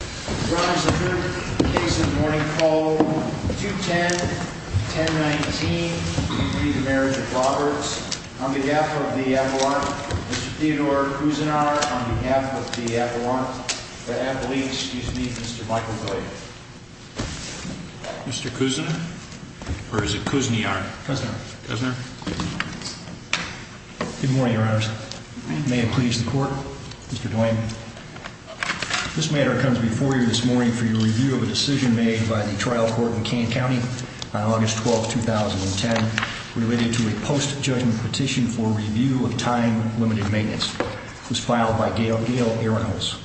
Brides and grooms, the case of the morning call, 210-1019, to be the marriage of Roberts, on behalf of the Avalon, Mr. Theodore Cousinart, on behalf of the Avalon, the Avaline, excuse me, Mr. Michael Dwayne. Mr. Cousinart? Or is it Cousiniart? Cousinart. Cousinart. Good morning, Your Honors. May it please the Court, Mr. Dwayne. This matter comes before you this morning for your review of a decision made by the trial court in Kane County on August 12, 2010, related to a post-judgment petition for review of time-limited maintenance. It was filed by Gail Arrenholz.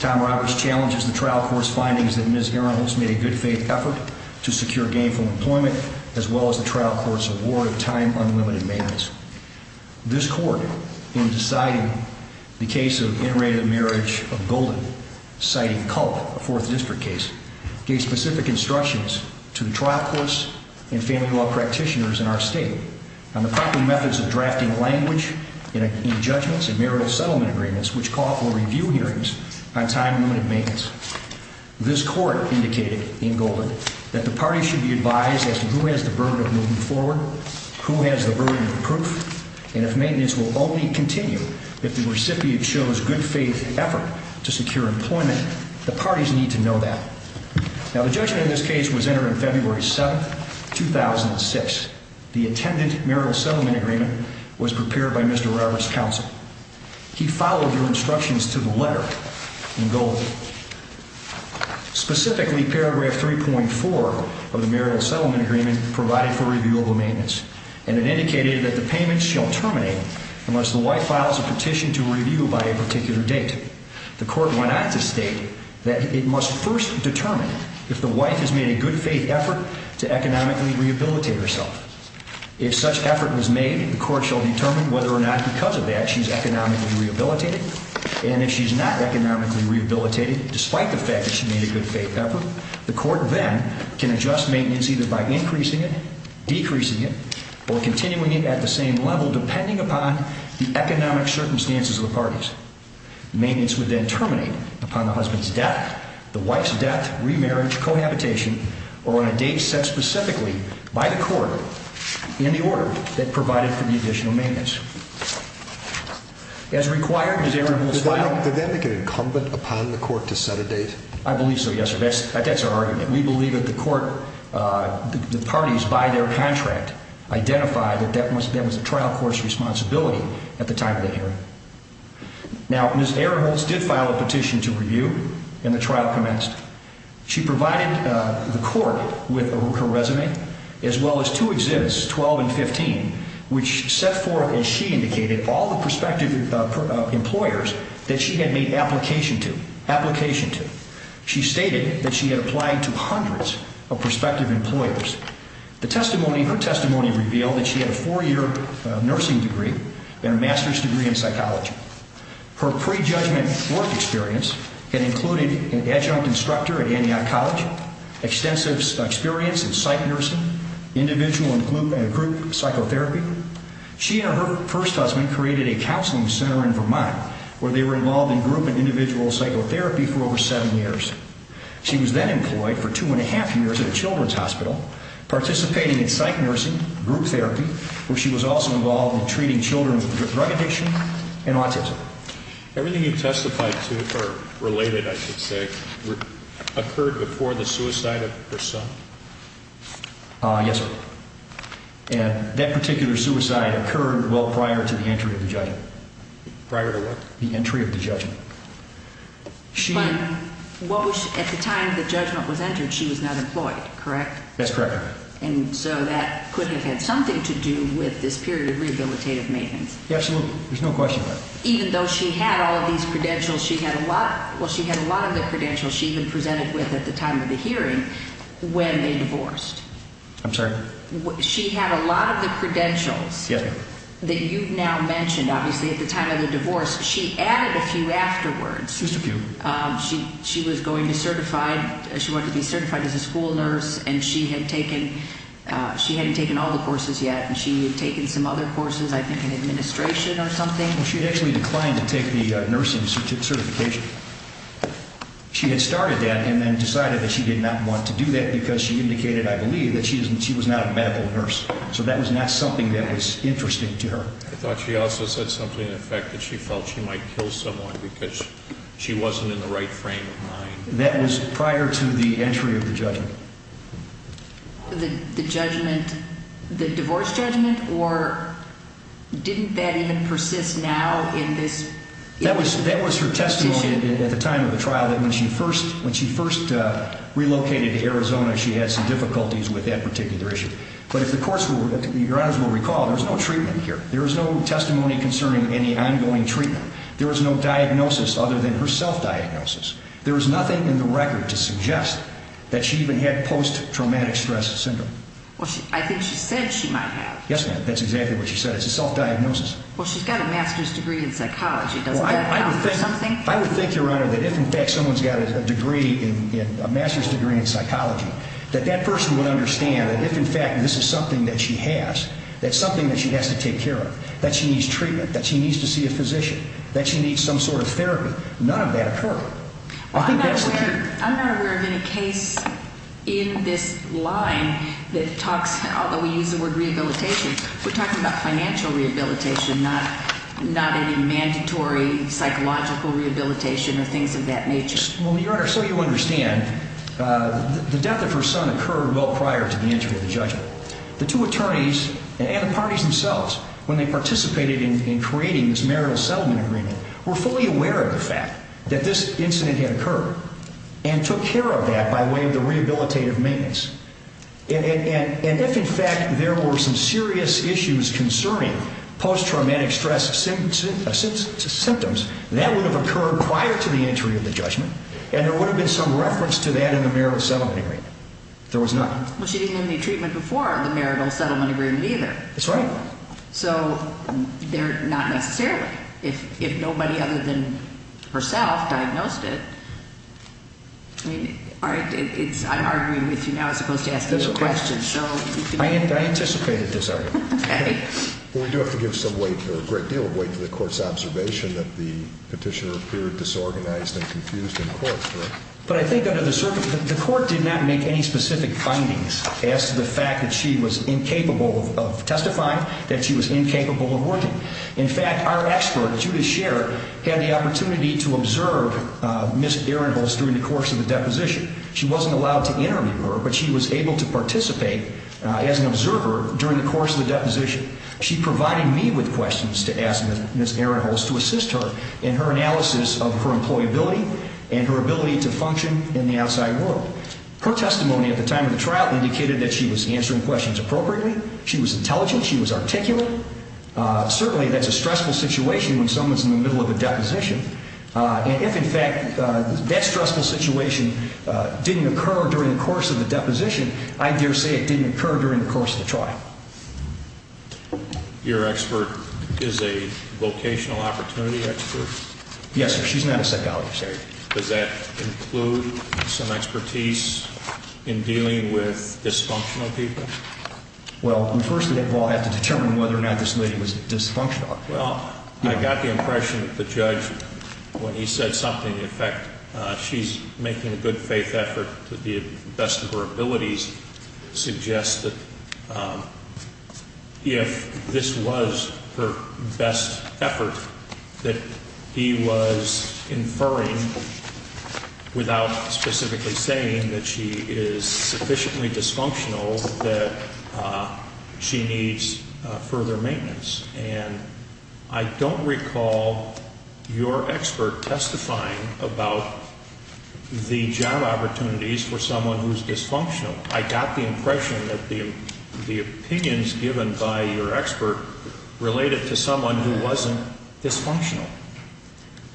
Tom Roberts challenges the trial court's findings that Ms. Arrenholz made a good-faith effort to secure gainful employment, as well as the trial court's award of time-unlimited maintenance. This court, in deciding the case of interrated marriage of Golden, citing Culp, a Fourth District case, gave specific instructions to the trial courts and family law practitioners in our state on the proper methods of drafting language in judgments and marital settlement agreements, which call for review hearings on time-limited maintenance. This court indicated in Golden that the parties should be advised as to who has the burden of moving forward, who has the burden of proof, and if maintenance will only continue if the recipient shows good-faith effort to secure employment. The parties need to know that. Now, the judgment in this case was entered on February 7, 2006. The intended marital settlement agreement was prepared by Mr. Roberts' counsel. He followed your instructions to the letter in Golden. Specifically, paragraph 3.4 of the marital settlement agreement provided for review of the maintenance, and it indicated that the payment shall terminate unless the wife files a petition to review by a particular date. The court went on to state that it must first determine if the wife has made a good-faith effort to economically rehabilitate herself. If such effort was made, the court shall determine whether or not because of that she's economically rehabilitated, and if she's not economically rehabilitated, despite the fact that she made a good-faith effort, the court then can adjust maintenance either by increasing it, decreasing it, or continuing it at the same level, depending upon the economic circumstances of the parties. Maintenance would then terminate upon the husband's death, the wife's death, remarriage, cohabitation, or on a date set specifically by the court in the order that provided for the additional maintenance. As required, Ms. Aron was filed… Did that make it incumbent upon the court to set a date? I believe so, yes, sir. That's our argument. We believe that the court, the parties by their contract, identified that that was the trial court's responsibility at the time of that hearing. Now, Ms. Aron did file a petition to review, and the trial commenced. She provided the court with her resume, as well as two exhibits, 12 and 15, which set forth, as she indicated, all the prospective employers that she had made application to. She stated that she had applied to hundreds of prospective employers. Her testimony revealed that she had a four-year nursing degree and a master's degree in psychology. Her pre-judgment work experience had included an adjunct instructor at Antioch College, extensive experience in psych nursing, individual and group psychotherapy. She and her first husband created a counseling center in Vermont, where they were involved in group and individual psychotherapy for over seven years. She was then employed for two and a half years at a children's hospital, participating in psych nursing, group therapy, where she was also involved in treating children with drug addiction and autism. Everything you testified to, or related, I should say, occurred before the suicide of her son? Yes, sir. And that particular suicide occurred, well, prior to the entry of the judgment. Prior to what? The entry of the judgment. But at the time the judgment was entered, she was not employed, correct? That's correct. And so that could have had something to do with this period of rehabilitative maintenance. Absolutely. There's no question about it. Even though she had all of these credentials, she had a lot of the credentials she even presented with at the time of the hearing when they divorced. I'm sorry? She had a lot of the credentials that you've now mentioned, obviously, at the time of the divorce. She added a few afterwards. Just a few. She was going to be certified as a school nurse, and she hadn't taken all the courses yet, and she had taken some other courses, I think in administration or something. Well, she had actually declined to take the nursing certification. She had started that and then decided that she did not want to do that because she indicated, I believe, that she was not a medical nurse. So that was not something that was interesting to her. I thought she also said something in the fact that she felt she might kill someone because she wasn't in the right frame of mind. The judgment, the divorce judgment, or didn't that even persist now in this? That was her testimony at the time of the trial that when she first relocated to Arizona, she had some difficulties with that particular issue. But if the courts will recall, there was no treatment here. There was no testimony concerning any ongoing treatment. There was no diagnosis other than her self-diagnosis. There was nothing in the record to suggest that she even had post-traumatic stress syndrome. Well, I think she said she might have. Yes, ma'am. That's exactly what she said. It's a self-diagnosis. Well, she's got a master's degree in psychology. Doesn't that count for something? I would think, Your Honor, that if, in fact, someone's got a master's degree in psychology, that that person would understand that if, in fact, this is something that she has, that's something that she has to take care of, that she needs treatment, that she needs to see a physician, that she needs some sort of therapy, none of that occurred. I'm not aware of any case in this line that talks, although we use the word rehabilitation, we're talking about financial rehabilitation, not any mandatory psychological rehabilitation or things of that nature. Well, Your Honor, so you understand, the death of her son occurred well prior to the entry of the judgment. The two attorneys and the parties themselves, when they participated in creating this marital settlement agreement, were fully aware of the fact that this incident had occurred and took care of that by way of the rehabilitative maintenance. And if, in fact, there were some serious issues concerning post-traumatic stress symptoms, that would have occurred prior to the entry of the judgment, and there would have been some reference to that in the marital settlement agreement. There was none. Well, she didn't have any treatment before the marital settlement agreement either. That's right. So they're not necessarily. If nobody other than herself diagnosed it, I mean, I'm arguing with you now as opposed to asking you a question. I anticipated this argument. Okay. Well, we do have to give some weight or a great deal of weight to the court's observation that the petitioner appeared disorganized and confused in court. But I think under the circumstances, the court did not make any specific findings as to the fact that she was incapable of testifying, that she was incapable of working. In fact, our expert, Judith Sherrod, had the opportunity to observe Ms. Ehrenholz during the course of the deposition. She wasn't allowed to interview her, but she was able to participate as an observer during the course of the deposition. She provided me with questions to ask Ms. Ehrenholz to assist her in her analysis of her employability and her ability to function in the outside world. Her testimony at the time of the trial indicated that she was answering questions appropriately. She was intelligent. She was articulate. Certainly, that's a stressful situation when someone's in the middle of a deposition. And if, in fact, that stressful situation didn't occur during the course of the deposition, I dare say it didn't occur during the course of the trial. Your expert is a vocational opportunity expert? Yes, sir. She's not a psychologist. Does that include some expertise in dealing with dysfunctional people? Well, first of all, I have to determine whether or not this lady was dysfunctional. Well, I got the impression that the judge, when he said something in effect, she's making a good faith effort to the best of her abilities to suggest that if this was her best effort, that he was inferring without specifically saying that she is sufficiently dysfunctional that she needs further maintenance. And I don't recall your expert testifying about the job opportunities for someone who's dysfunctional. I got the impression that the opinions given by your expert related to someone who wasn't dysfunctional.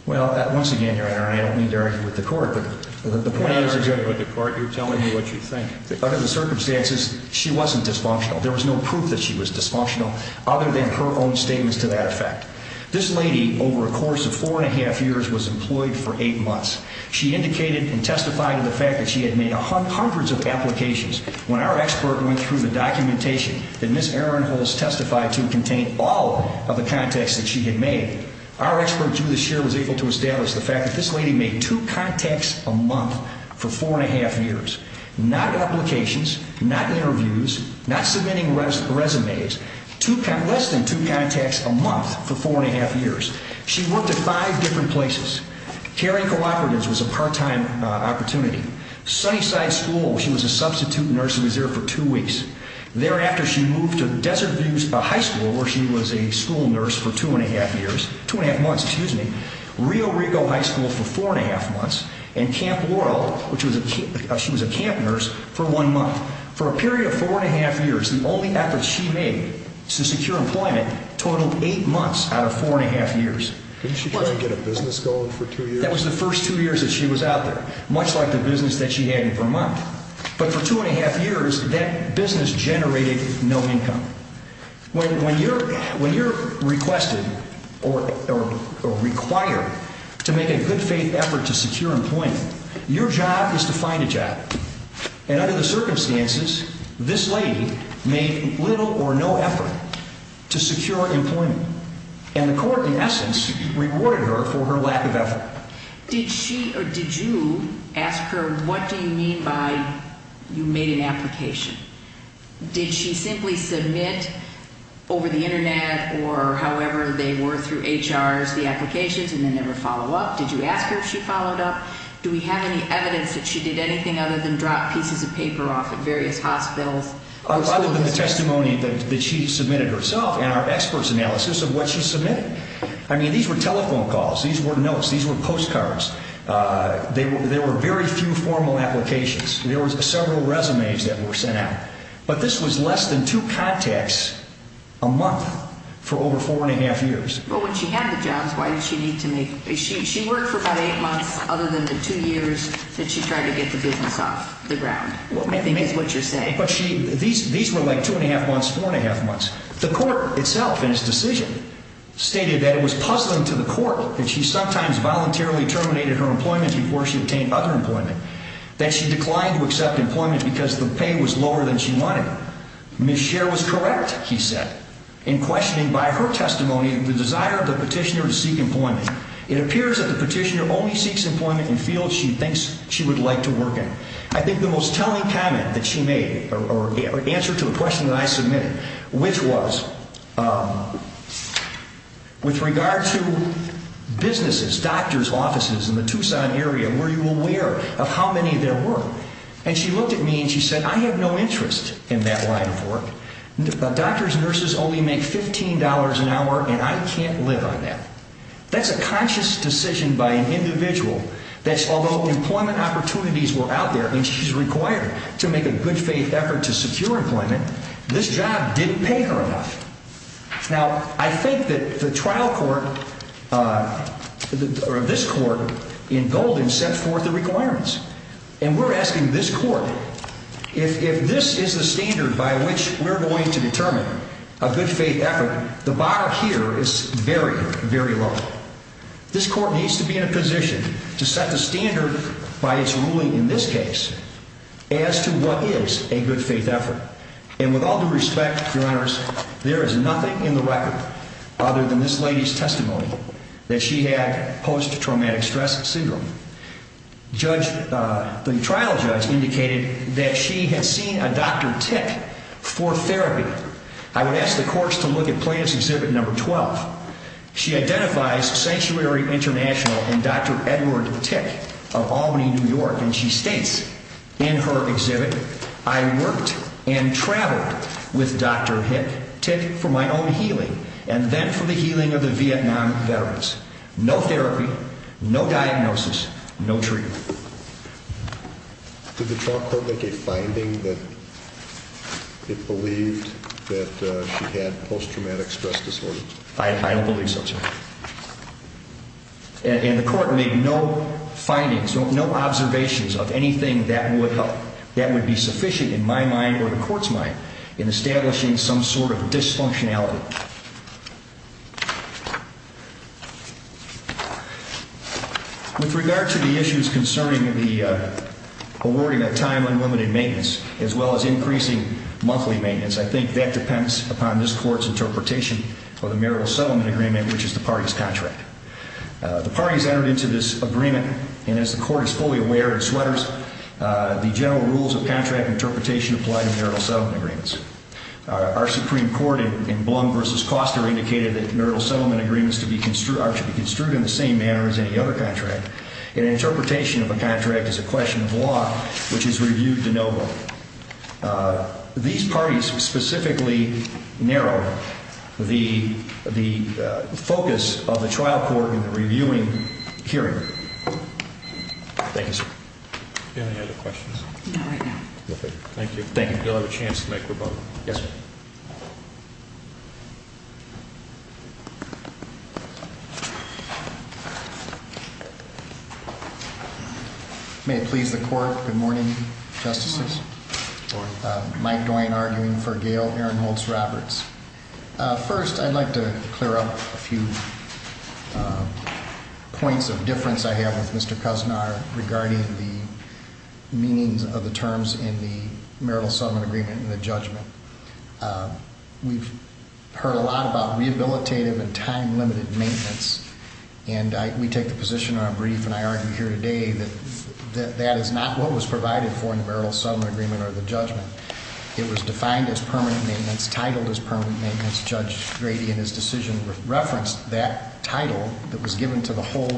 Well, once again, Your Honor, I don't mean to argue with the court. You're not arguing with the court. You're telling me what you think. Under the circumstances, she wasn't dysfunctional. There was no proof that she was dysfunctional other than her own statements to that effect. This lady, over a course of four and a half years, was employed for eight months. She indicated and testified in the fact that she had made hundreds of applications. When our expert went through the documentation that Ms. Aronholz testified to contained all of the contacts that she had made, our expert, Judith Shear, was able to establish the fact that this lady made two contacts a month for four and a half years. Not applications, not interviews, not submitting resumes, less than two contacts a month for four and a half years. She worked at five different places. Caring Cooperatives was a part-time opportunity. Sunnyside School, she was a substitute nurse and was there for two weeks. Thereafter, she moved to Desert View High School, where she was a school nurse for two and a half months. Rio Rico High School for four and a half months. And Camp Laurel, she was a camp nurse for one month. For a period of four and a half years, the only efforts she made to secure employment totaled eight months out of four and a half years. Didn't she try to get a business going for two years? That was the first two years that she was out there, much like the business that she had in Vermont. But for two and a half years, that business generated no income. When you're requested or required to make a good faith effort to secure employment, your job is to find a job. And under the circumstances, this lady made little or no effort to secure employment. And the court, in essence, rewarded her for her lack of effort. Did she or did you ask her, what do you mean by you made an application? Did she simply submit over the Internet or however they were through HRs the applications and then never follow up? Did you ask her if she followed up? Do we have any evidence that she did anything other than drop pieces of paper off at various hospitals? Other than the testimony that she submitted herself and our experts' analysis of what she submitted. I mean, these were telephone calls. These were notes. These were postcards. There were very few formal applications. There were several resumes that were sent out. But this was less than two contacts a month for over four and a half years. Well, when she had the jobs, why did she need to make? She worked for about eight months, other than the two years that she tried to get the business off the ground, I think is what you're saying. These were like two and a half months, four and a half months. The court itself in its decision stated that it was puzzling to the court that she sometimes voluntarily terminated her employment before she obtained other employment. That she declined to accept employment because the pay was lower than she wanted. Ms. Scher was correct, he said, in questioning by her testimony the desire of the petitioner to seek employment. It appears that the petitioner only seeks employment in fields she thinks she would like to work in. I think the most telling comment that she made, or answer to the question that I submitted, which was with regard to businesses, doctor's offices in the Tucson area, were you aware of how many there were? And she looked at me and she said, I have no interest in that line of work. Doctors and nurses only make $15 an hour and I can't live on that. That's a conscious decision by an individual that although employment opportunities were out there, and she's required to make a good faith effort to secure employment, this job didn't pay her enough. Now, I think that the trial court, or this court in Golden, set forth the requirements. And we're asking this court, if this is the standard by which we're going to determine a good faith effort, the bar here is very, very low. This court needs to be in a position to set the standard by its ruling in this case as to what is a good faith effort. And with all due respect, Your Honors, there is nothing in the record other than this lady's testimony that she had post-traumatic stress syndrome. The trial judge indicated that she had seen a doctor tick for therapy. I would ask the courts to look at plaintiff's Exhibit No. 12. She identifies Sanctuary International and Dr. Edward Tick of Albany, New York, and she states in her exhibit, I worked and traveled with Dr. Tick for my own healing and then for the healing of the Vietnam veterans. No therapy, no diagnosis, no treatment. Did the trial court make a finding that it believed that she had post-traumatic stress disorder? I don't believe so, sir. And the court made no findings, no observations of anything that would be sufficient in my mind or the court's mind in establishing some sort of dysfunctionality. With regard to the issues concerning the awarding of time unlimited maintenance as well as increasing monthly maintenance, I think that depends upon this court's interpretation of the marital settlement agreement, which is the party's contract. The party has entered into this agreement, and as the court is fully aware, the general rules of contract interpretation apply to marital settlement agreements. Our Supreme Court in Blum v. Koster indicated that marital settlement agreements are to be construed in the same manner as any other contract. An interpretation of a contract is a question of law, which is reviewed de novo. These parties specifically narrow the focus of the trial court in the reviewing hearing. Thank you, sir. Any other questions? No, right now. Okay. Thank you. Thank you. You'll have a chance to make your vote. Yes, sir. May it please the court. Good morning, Justices. Good morning. Mike Dwayne arguing for Gail Ehrenholz-Roberts. First, I'd like to clear up a few points of difference I have with Mr. Kusnar regarding the meanings of the terms in the marital settlement agreement and the judgment. We've heard a lot about rehabilitative and time-limited maintenance, and we take the position in our brief, and I argue here today, that that is not what was provided for in the marital settlement agreement or the judgment. It was defined as permanent maintenance, titled as permanent maintenance. Judge Grady, in his decision, referenced that title that was given to the whole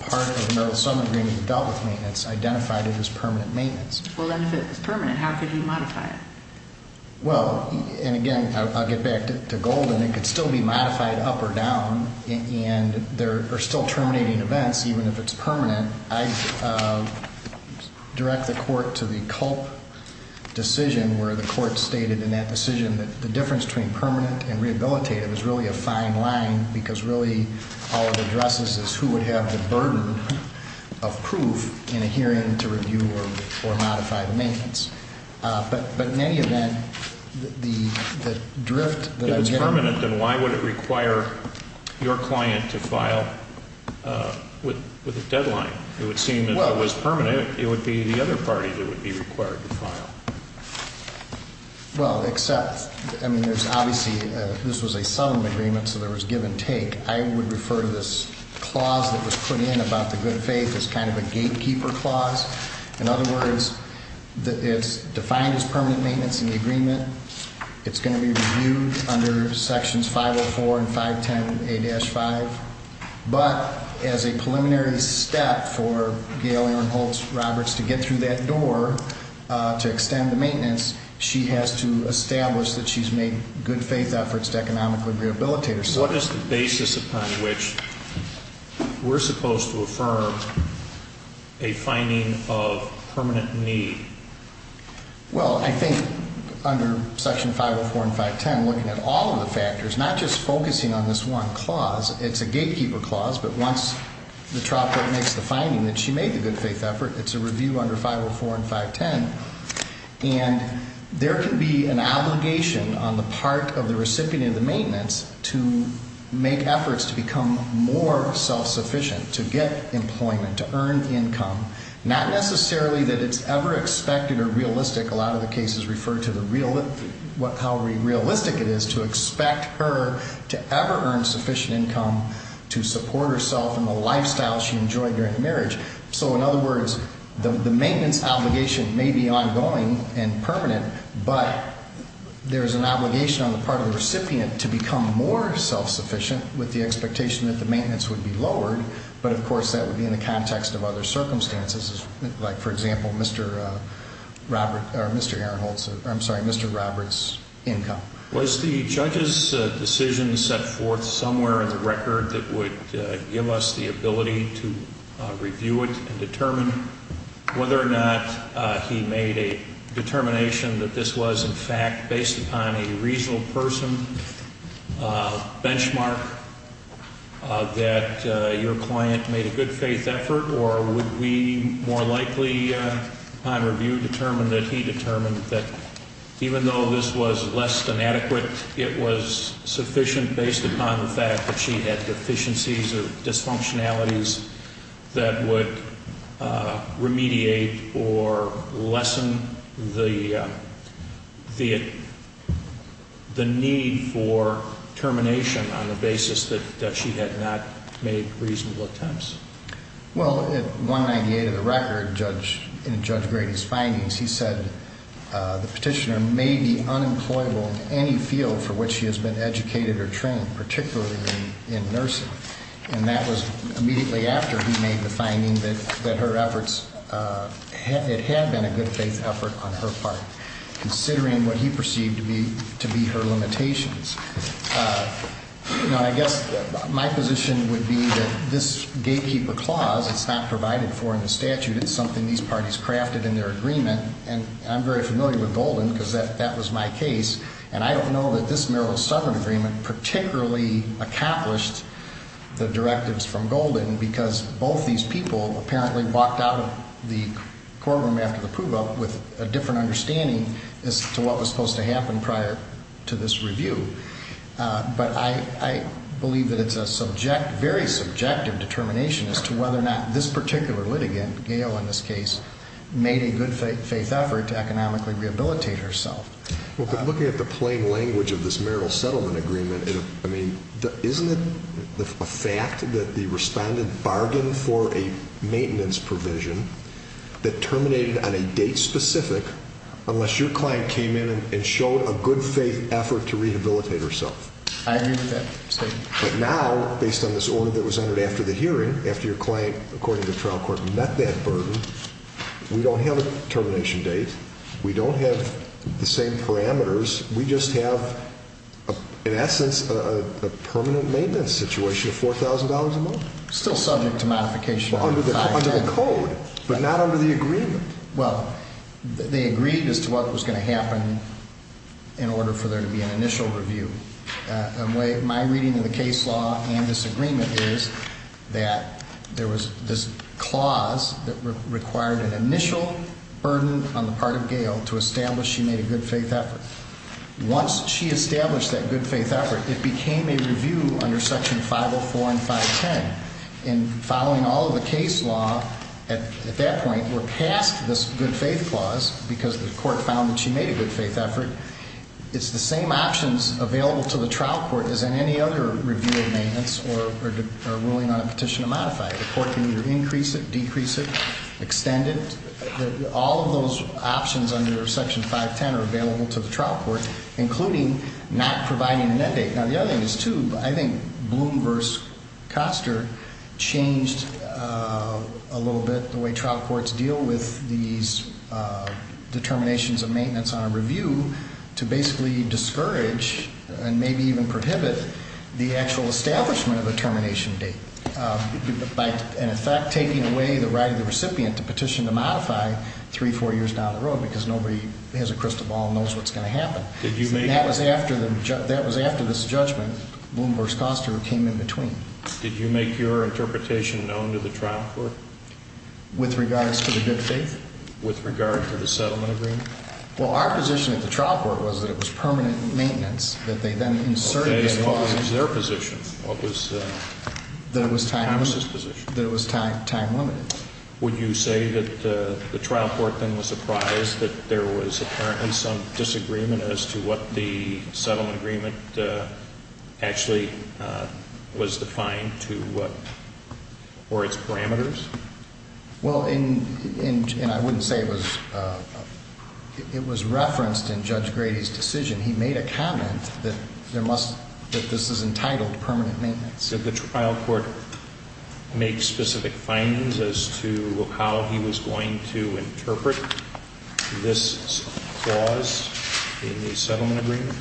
part of the marital settlement agreement that dealt with maintenance, identified it as permanent maintenance. Well, then if it was permanent, how could he modify it? Well, and again, I'll get back to Golden. It could still be modified up or down, and there are still terminating events, even if it's permanent. I direct the court to the Culp decision where the court stated in that decision that the difference between permanent and rehabilitative is really a fine line because really all it addresses is who would have the burden of proof in a hearing to review or modify the maintenance. But in any event, the drift that I'm getting... If it's permanent, then why would it require your client to file with a deadline? It would seem that if it was permanent, it would be the other party that would be required to file. Well, except, I mean, there's obviously, this was a settlement agreement, so there was give and take. I would refer to this clause that was put in about the good faith as kind of a gatekeeper clause. In other words, it's defined as permanent maintenance in the agreement. It's going to be reviewed under Sections 504 and 510A-5. But as a preliminary step for Gail Aaron Holtz-Roberts to get through that door to extend the maintenance, she has to establish that she's made good faith efforts to economically rehabilitate herself. What is the basis upon which we're supposed to affirm a finding of permanent need? Well, I think under Section 504 and 510, looking at all of the factors, not just focusing on this one clause, it's a gatekeeper clause, but once the trial court makes the finding that she made the good faith effort, it's a review under 504 and 510. And there can be an obligation on the part of the recipient of the maintenance to make efforts to become more self-sufficient, to get employment, to earn income, not necessarily that it's ever expected or realistic. A lot of the cases refer to how realistic it is to expect her to ever earn sufficient income to support herself and the lifestyle she enjoyed during the marriage. So, in other words, the maintenance obligation may be ongoing and permanent, but there's an obligation on the part of the recipient to become more self-sufficient with the expectation that the maintenance would be lowered. But, of course, that would be in the context of other circumstances, like, for example, Mr. Aaron Holtz, I'm sorry, Mr. Roberts' income. Was the judge's decision set forth somewhere in the record that would give us the ability to review it and determine whether or not he made a determination that this was, in fact, based upon a reasonable person benchmark, that your client made a good faith effort, or would we more likely, upon review, determine that he determined that even though this was less than adequate, it was sufficient based upon the fact that she had deficiencies or dysfunctionalities that would remediate or lessen the need for termination on the basis that she had not made reasonable attempts? Well, at 198 of the record, in Judge Grady's findings, he said the petitioner may be unemployable in any field for which she has been educated or trained, particularly in nursing, and that was immediately after he made the finding that her efforts, it had been a good faith effort on her part, considering what he perceived to be her limitations. Now, I guess my position would be that this gatekeeper clause, it's not provided for in the statute. It's something these parties crafted in their agreement, and I'm very familiar with Golden, because that was my case, and I don't know that this Merrill-Southern agreement particularly accomplished the directives from Golden, because both these people apparently walked out of the courtroom after the prove-up with a different understanding as to what was supposed to happen prior to this review. But I believe that it's a very subjective determination as to whether or not this particular litigant, Gale in this case, made a good faith effort to economically rehabilitate herself. Well, looking at the plain language of this Merrill-Southern agreement, isn't it a fact that the respondent bargained for a maintenance provision that terminated on a date specific unless your client came in and showed a good faith effort to rehabilitate herself? I agree with that statement. But now, based on this order that was entered after the hearing, after your client, according to the trial court, met that burden, we don't have a termination date. We don't have the same parameters. We just have, in essence, a permanent maintenance situation of $4,000 a month. Still subject to modification. Under the code, but not under the agreement. Well, they agreed as to what was going to happen in order for there to be an initial review. My reading of the case law and this agreement is that there was this clause that required an initial burden on the part of Gale to establish she made a good faith effort. Once she established that good faith effort, it became a review under Section 504 and 510. And following all of the case law at that point, we're past this good faith clause because the court found that she made a good faith effort. It's the same options available to the trial court as in any other review of maintenance or ruling on a petition to modify it. The court can either increase it, decrease it, extend it. All of those options under Section 510 are available to the trial court, including not providing an end date. Now, the other thing is, too, I think Bloom versus Koster changed a little bit the way trial courts deal with these determinations of maintenance on a review to basically discourage and maybe even prohibit the actual establishment of a termination date. By, in effect, taking away the right of the recipient to petition to modify three, four years down the road because nobody has a crystal ball and knows what's going to happen. That was after this judgment. Bloom versus Koster came in between. Did you make your interpretation known to the trial court? With regards to the good faith? With regard to the settlement agreement? Well, our position at the trial court was that it was permanent maintenance that they then inserted into the law. Okay, as far as their position, what was Congress's position? That it was time limited. Would you say that the trial court then was surprised that there was apparently some disagreement as to what the settlement agreement actually was defined to what, or its parameters? Well, and I wouldn't say it was referenced in Judge Grady's decision. He made a comment that there must, that this is entitled permanent maintenance. Did the trial court make specific findings as to how he was going to interpret this clause in the settlement agreement?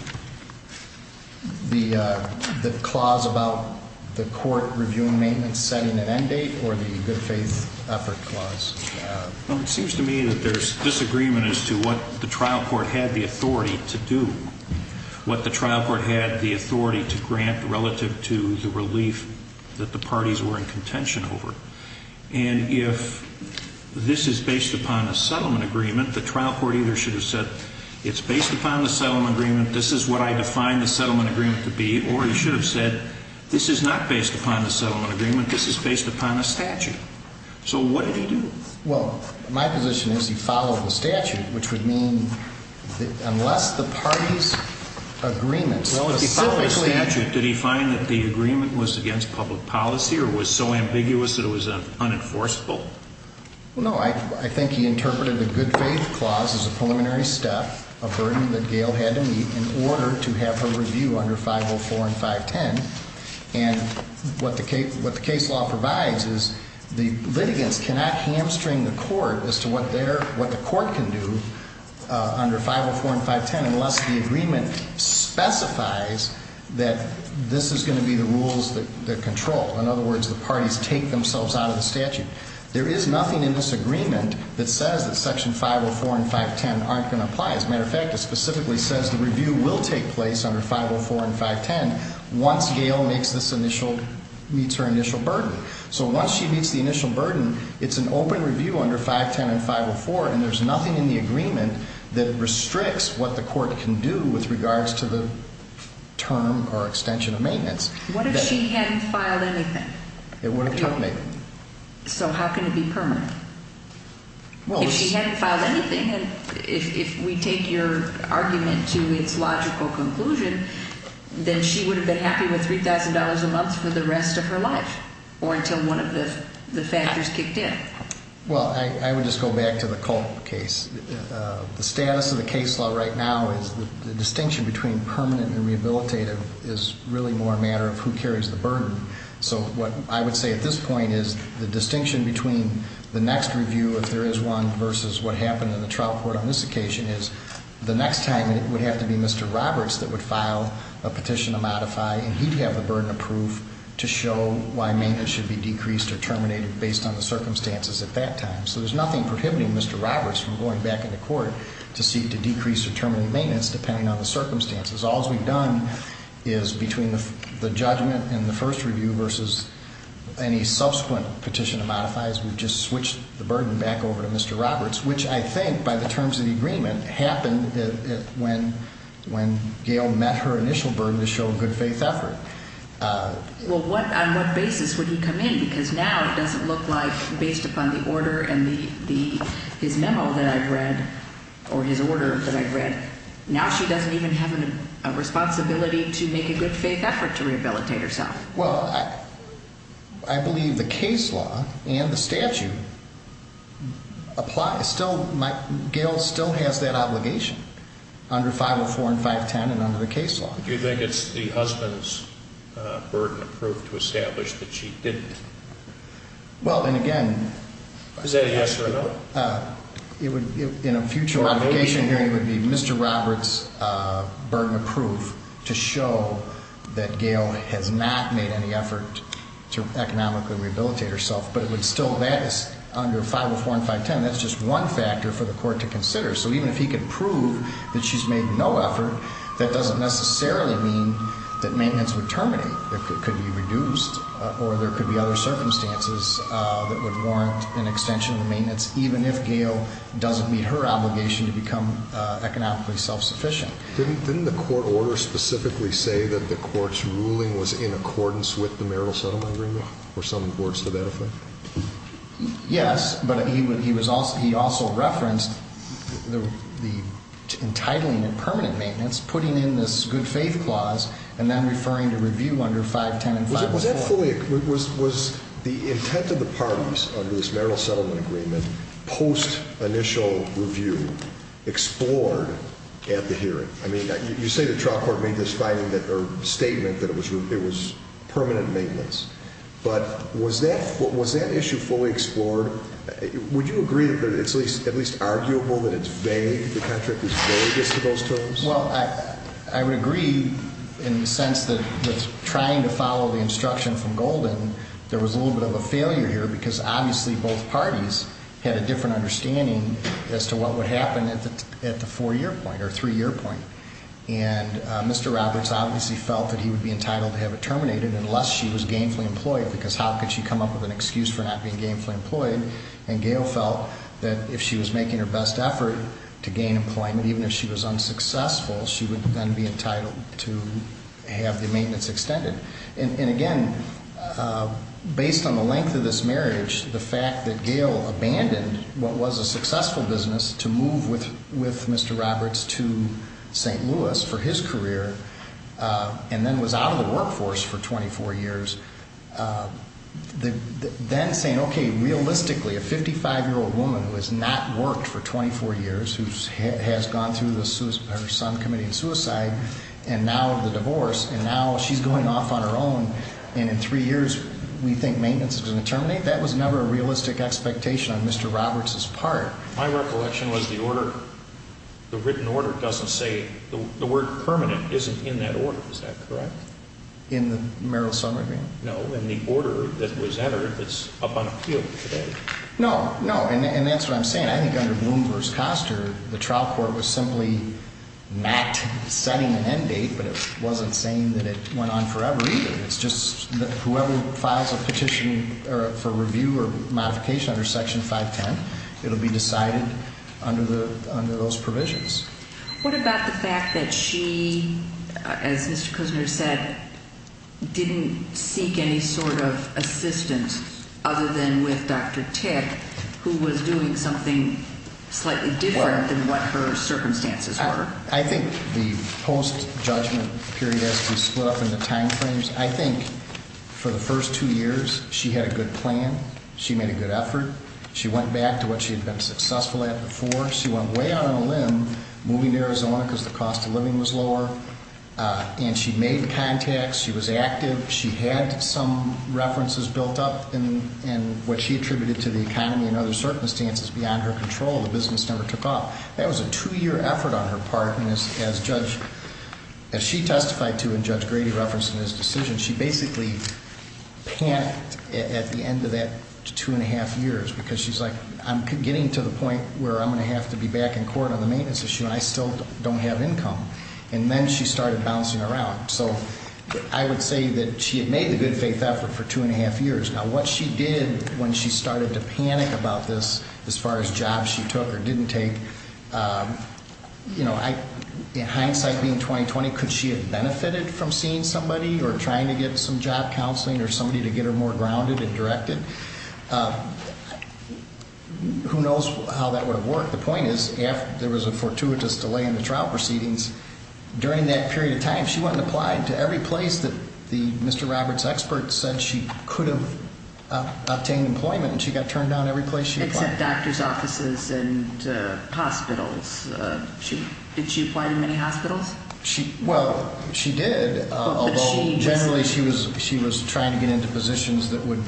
The clause about the court reviewing maintenance setting an end date or the good faith effort clause? Well, it seems to me that there's disagreement as to what the trial court had the authority to do. What the trial court had the authority to grant relative to the relief that the parties were in contention over. And if this is based upon a settlement agreement, the trial court either should have said, it's based upon the settlement agreement, this is what I define the settlement agreement to be. Or he should have said, this is not based upon the settlement agreement, this is based upon a statute. So what did he do? Well, my position is he followed the statute, which would mean that unless the party's agreement specifically. Well, if he followed the statute, did he find that the agreement was against public policy or was so ambiguous that it was unenforceable? No, I think he interpreted the good faith clause as a preliminary step, a burden that Gail had to meet in order to have her review under 504 and 510. And what the case law provides is the litigants cannot hamstring the court as to what the court can do under 504 and 510 unless the agreement specifies that this is going to be the rules that control. In other words, the parties take themselves out of the statute. There is nothing in this agreement that says that section 504 and 510 aren't going to apply. As a matter of fact, it specifically says the review will take place under 504 and 510 once Gail meets her initial burden. So once she meets the initial burden, it's an open review under 510 and 504 and there's nothing in the agreement that restricts what the court can do with regards to the term or extension of maintenance. What if she hadn't filed anything? It would have terminated. So how can it be permanent? If she hadn't filed anything and if we take your argument to its logical conclusion, then she would have been happy with $3,000 a month for the rest of her life or until one of the factors kicked in. Well, I would just go back to the Culp case. The status of the case law right now is the distinction between permanent and rehabilitative is really more a matter of who carries the burden. So what I would say at this point is the distinction between the next review if there is one versus what happened in the trial court on this occasion is the next time it would have to be Mr. Roberts that would file a petition to modify and he'd have the burden approved to show why maintenance should be decreased or terminated based on the circumstances at that time. So there's nothing prohibiting Mr. Roberts from going back into court to seek to decrease or terminate maintenance depending on the circumstances. All we've done is between the judgment and the first review versus any subsequent petition to modify is we've just switched the burden back over to Mr. Roberts, which I think by the terms of the agreement happened when Gail met her initial burden to show good faith effort. Well, what on what basis would he come in? Because now it doesn't look like based upon the order and the his memo that I've read or his order that I've read. Now she doesn't even have a responsibility to make a good faith effort to rehabilitate herself. Well, I believe the case law and the statute apply. Still, my Gail still has that obligation under 504 and 510 and under the case law. Do you think it's the husband's burden approved to establish that she didn't? Well, and again. Is that a yes or a no? In a future modification hearing it would be Mr. Roberts' burden approved to show that Gail has not made any effort to economically rehabilitate herself, but it would still, that is under 504 and 510, that's just one factor for the court to consider. So even if he could prove that she's made no effort, that doesn't necessarily mean that maintenance would terminate. It could be reduced or there could be other circumstances that would warrant an extension of the maintenance, even if Gail doesn't meet her obligation to become economically self-sufficient. Didn't the court order specifically say that the court's ruling was in accordance with the marital settlement agreement or some reports to that effect? Yes, but he also referenced the entitling and permanent maintenance, putting in this good faith clause, and then referring to review under 510 and 504. Was the intent of the parties under this marital settlement agreement post-initial review explored at the hearing? I mean, you say the trial court made this statement that it was permanent maintenance, but was that issue fully explored? Would you agree that it's at least arguable that it's vague, the contract is vague as to those terms? Well, I would agree in the sense that with trying to follow the instruction from Golden, there was a little bit of a failure here because obviously both parties had a different understanding as to what would happen at the four-year point or three-year point. And Mr. Roberts obviously felt that he would be entitled to have it terminated unless she was gainfully employed, because how could she come up with an excuse for not being gainfully employed? And Gail felt that if she was making her best effort to gain employment, even if she was unsuccessful, she would then be entitled to have the maintenance extended. And again, based on the length of this marriage, the fact that Gail abandoned what was a successful business to move with Mr. Roberts to St. Louis for his career and then was out of the workforce for 24 years, then saying, okay, realistically, a 55-year-old woman who has not worked for 24 years, who has gone through her son committing suicide and now the divorce, and now she's going off on her own and in three years we think maintenance is going to terminate? I think that was never a realistic expectation on Mr. Roberts' part. My recollection was the order, the written order doesn't say, the word permanent isn't in that order, is that correct? In the Merrill-Sommergreen? No, in the order that was entered that's up on appeal today. No, no, and that's what I'm saying. I think under Bloom v. Koster, the trial court was simply not setting an end date, but it wasn't saying that it went on forever either. It's just that whoever files a petition for review or modification under Section 510, it will be decided under those provisions. What about the fact that she, as Mr. Kusner said, didn't seek any sort of assistance other than with Dr. Tick, who was doing something slightly different than what her circumstances were? I think the post-judgment period split up into timeframes. I think for the first two years she had a good plan. She made a good effort. She went back to what she had been successful at before. She went way out on a limb moving to Arizona because the cost of living was lower. And she made contacts. She was active. She had some references built up in what she attributed to the economy and other circumstances beyond her control. The business never took off. That was a two-year effort on her part. And as she testified to and Judge Grady referenced in his decision, she basically panicked at the end of that two-and-a-half years because she's like, I'm getting to the point where I'm going to have to be back in court on the maintenance issue, and I still don't have income. And then she started bouncing around. So I would say that she had made the good faith effort for two-and-a-half years. Now, what she did when she started to panic about this as far as jobs she took or didn't take, you know, in hindsight being 20-20, could she have benefited from seeing somebody or trying to get some job counseling or somebody to get her more grounded and directed? Who knows how that would have worked. The point is there was a fortuitous delay in the trial proceedings. During that period of time, she went and applied to every place that the Mr. Roberts expert said she could have obtained employment, and she got turned down every place she applied. Except doctor's offices and hospitals. Did she apply to many hospitals? Well, she did, although generally she was trying to get into positions that would,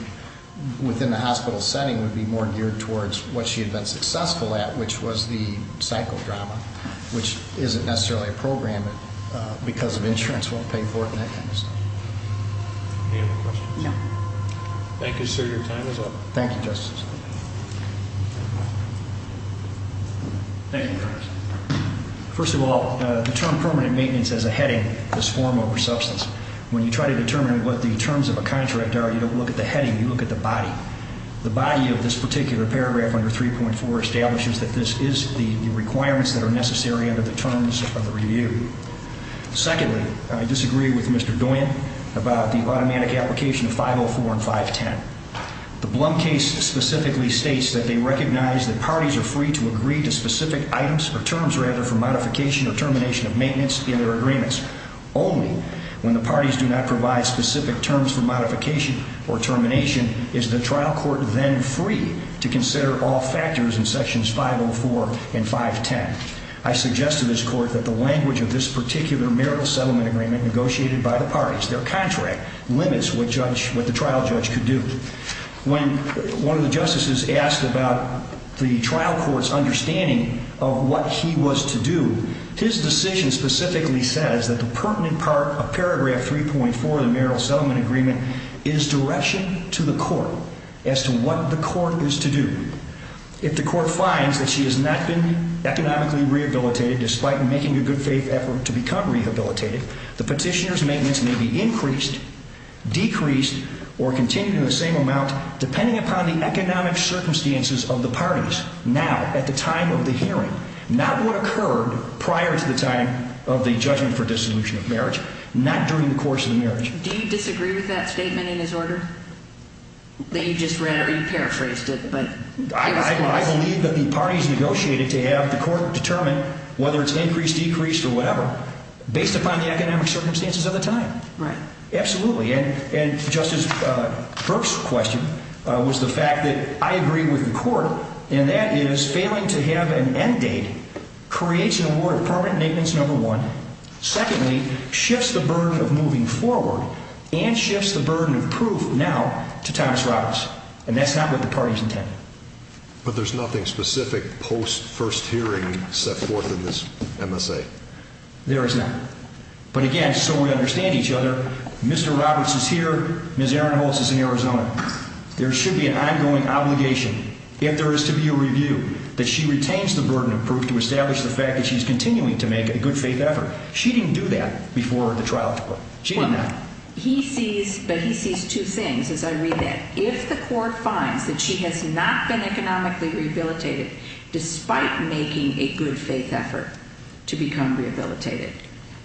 within the hospital setting, would be more geared towards what she had been successful at, which was the psychodrama, which isn't necessarily a program, but because of insurance won't pay for it in that case. Any other questions? No. Thank you, sir. Your time is up. Thank you, Justice. Thank you, Your Honor. First of all, the term permanent maintenance has a heading, this form over substance. When you try to determine what the terms of a contract are, you don't look at the heading. You look at the body. The body of this particular paragraph under 3.4 establishes that this is the requirements that are necessary under the terms of the review. Secondly, I disagree with Mr. Doyen about the automatic application of 504 and 510. The Blum case specifically states that they recognize that parties are free to agree to specific items, or terms rather, for modification or termination of maintenance in their agreements, only when the parties do not provide specific terms for modification or termination is the trial court then free to consider all factors in sections 504 and 510. I suggest to this court that the language of this particular marital settlement agreement negotiated by the parties, their contract, limits what the trial judge could do. When one of the justices asked about the trial court's understanding of what he was to do, his decision specifically says that the pertinent part of paragraph 3.4 of the marital settlement agreement is direction to the court as to what the court is to do. If the court finds that she has not been economically rehabilitated, despite making a good faith effort to become rehabilitated, the petitioner's maintenance may be increased, decreased, or continued in the same amount depending upon the economic circumstances of the parties now at the time of the hearing. Not what occurred prior to the time of the judgment for dissolution of marriage, not during the course of the marriage. Do you disagree with that statement in his order? That you just read, or you paraphrased it, but it was close. I believe that the parties negotiated to have the court determine whether it's increased, decreased, or whatever, based upon the economic circumstances of the time. Right. Absolutely. And Justice Kirk's question was the fact that I agree with the court, and that is failing to have an end date creates an award of permanent maintenance, number one. Secondly, shifts the burden of moving forward and shifts the burden of proof now to Thomas Roberts. And that's not what the parties intended. But there's nothing specific post-first hearing set forth in this MSA. There is not. But again, so we understand each other, Mr. Roberts is here, Ms. Erin Holtz is in Arizona. There should be an ongoing obligation, if there is to be a review, that she retains the burden of proof to establish the fact that she's continuing to make a good-faith effort. She didn't do that before the trial. She did not. He sees, but he sees two things as I read that. If the court finds that she has not been economically rehabilitated, despite making a good-faith effort to become rehabilitated,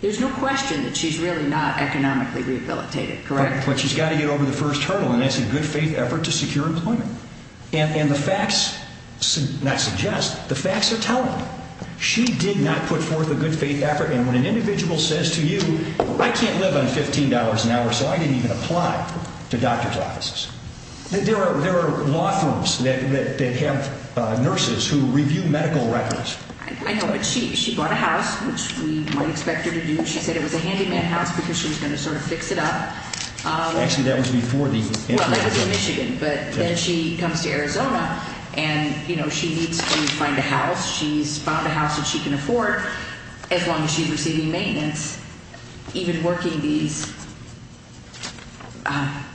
there's no question that she's really not economically rehabilitated, correct? But she's got to get over the first hurdle, and that's a good-faith effort to secure employment. And the facts not suggest, the facts are telling. She did not put forth a good-faith effort. And when an individual says to you, I can't live on $15 an hour, so I didn't even apply to doctor's offices, there are law firms that have nurses who review medical records. I know, but she bought a house, which we might expect her to do. She said it was a handyman house because she was going to sort of fix it up. Actually, that was before the incident. Well, that was in Michigan. But then she comes to Arizona, and, you know, she needs to find a house. She's found a house that she can afford as long as she's receiving maintenance, even working these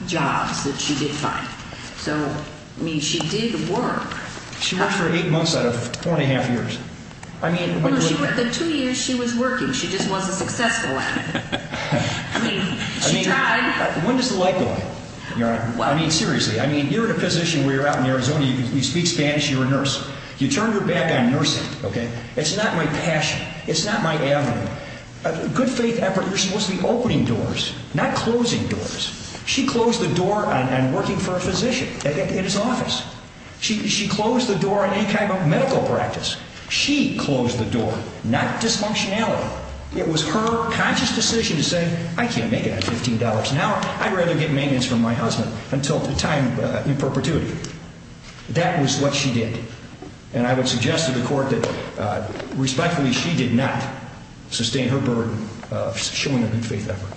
jobs that she did find. So, I mean, she did work. She worked for eight months out of four and a half years. The two years she was working, she just wasn't successful at it. I mean, she tried. When does the light go out? I mean, seriously. I mean, you're in a position where you're out in Arizona, you speak Spanish, you're a nurse. You turned your back on nursing. It's not my passion. It's not my avenue. A good-faith effort, you're supposed to be opening doors, not closing doors. She closed the door on working for a physician in his office. She closed the door on any kind of medical practice. She closed the door, not dysfunctionality. It was her conscious decision to say, I can't make it on $15 an hour. I'd rather get maintenance from my husband until the time in perpetuity. That was what she did. And I would suggest to the court that, respectfully, she did not sustain her burden of showing a good-faith effort.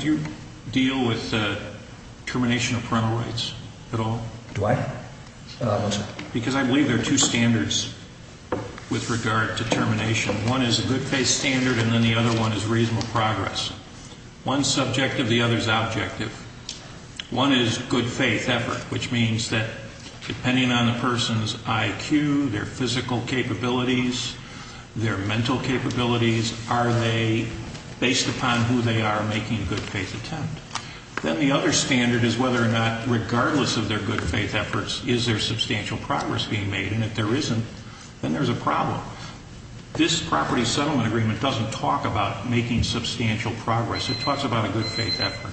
Do you deal with termination of parental rights at all? Do I? No, I don't, sir. Because I believe there are two standards with regard to termination. One is a good-faith standard, and then the other one is reasonable progress. One's subjective, the other's objective. One is good-faith effort, which means that depending on the person's IQ, their physical capabilities, their mental capabilities, are they, based upon who they are, making a good-faith attempt? Then the other standard is whether or not, regardless of their good-faith efforts, is there substantial progress being made? And if there isn't, then there's a problem. This property settlement agreement doesn't talk about making substantial progress. It talks about a good-faith effort.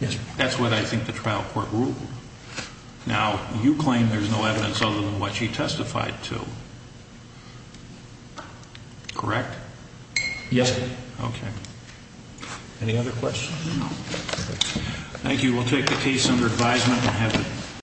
Yes, sir. That's what I think the trial court ruled. Now, you claim there's no evidence other than what she testified to, correct? Yes, sir. Okay. Any other questions? No. Thank you. We'll take the case under advisement.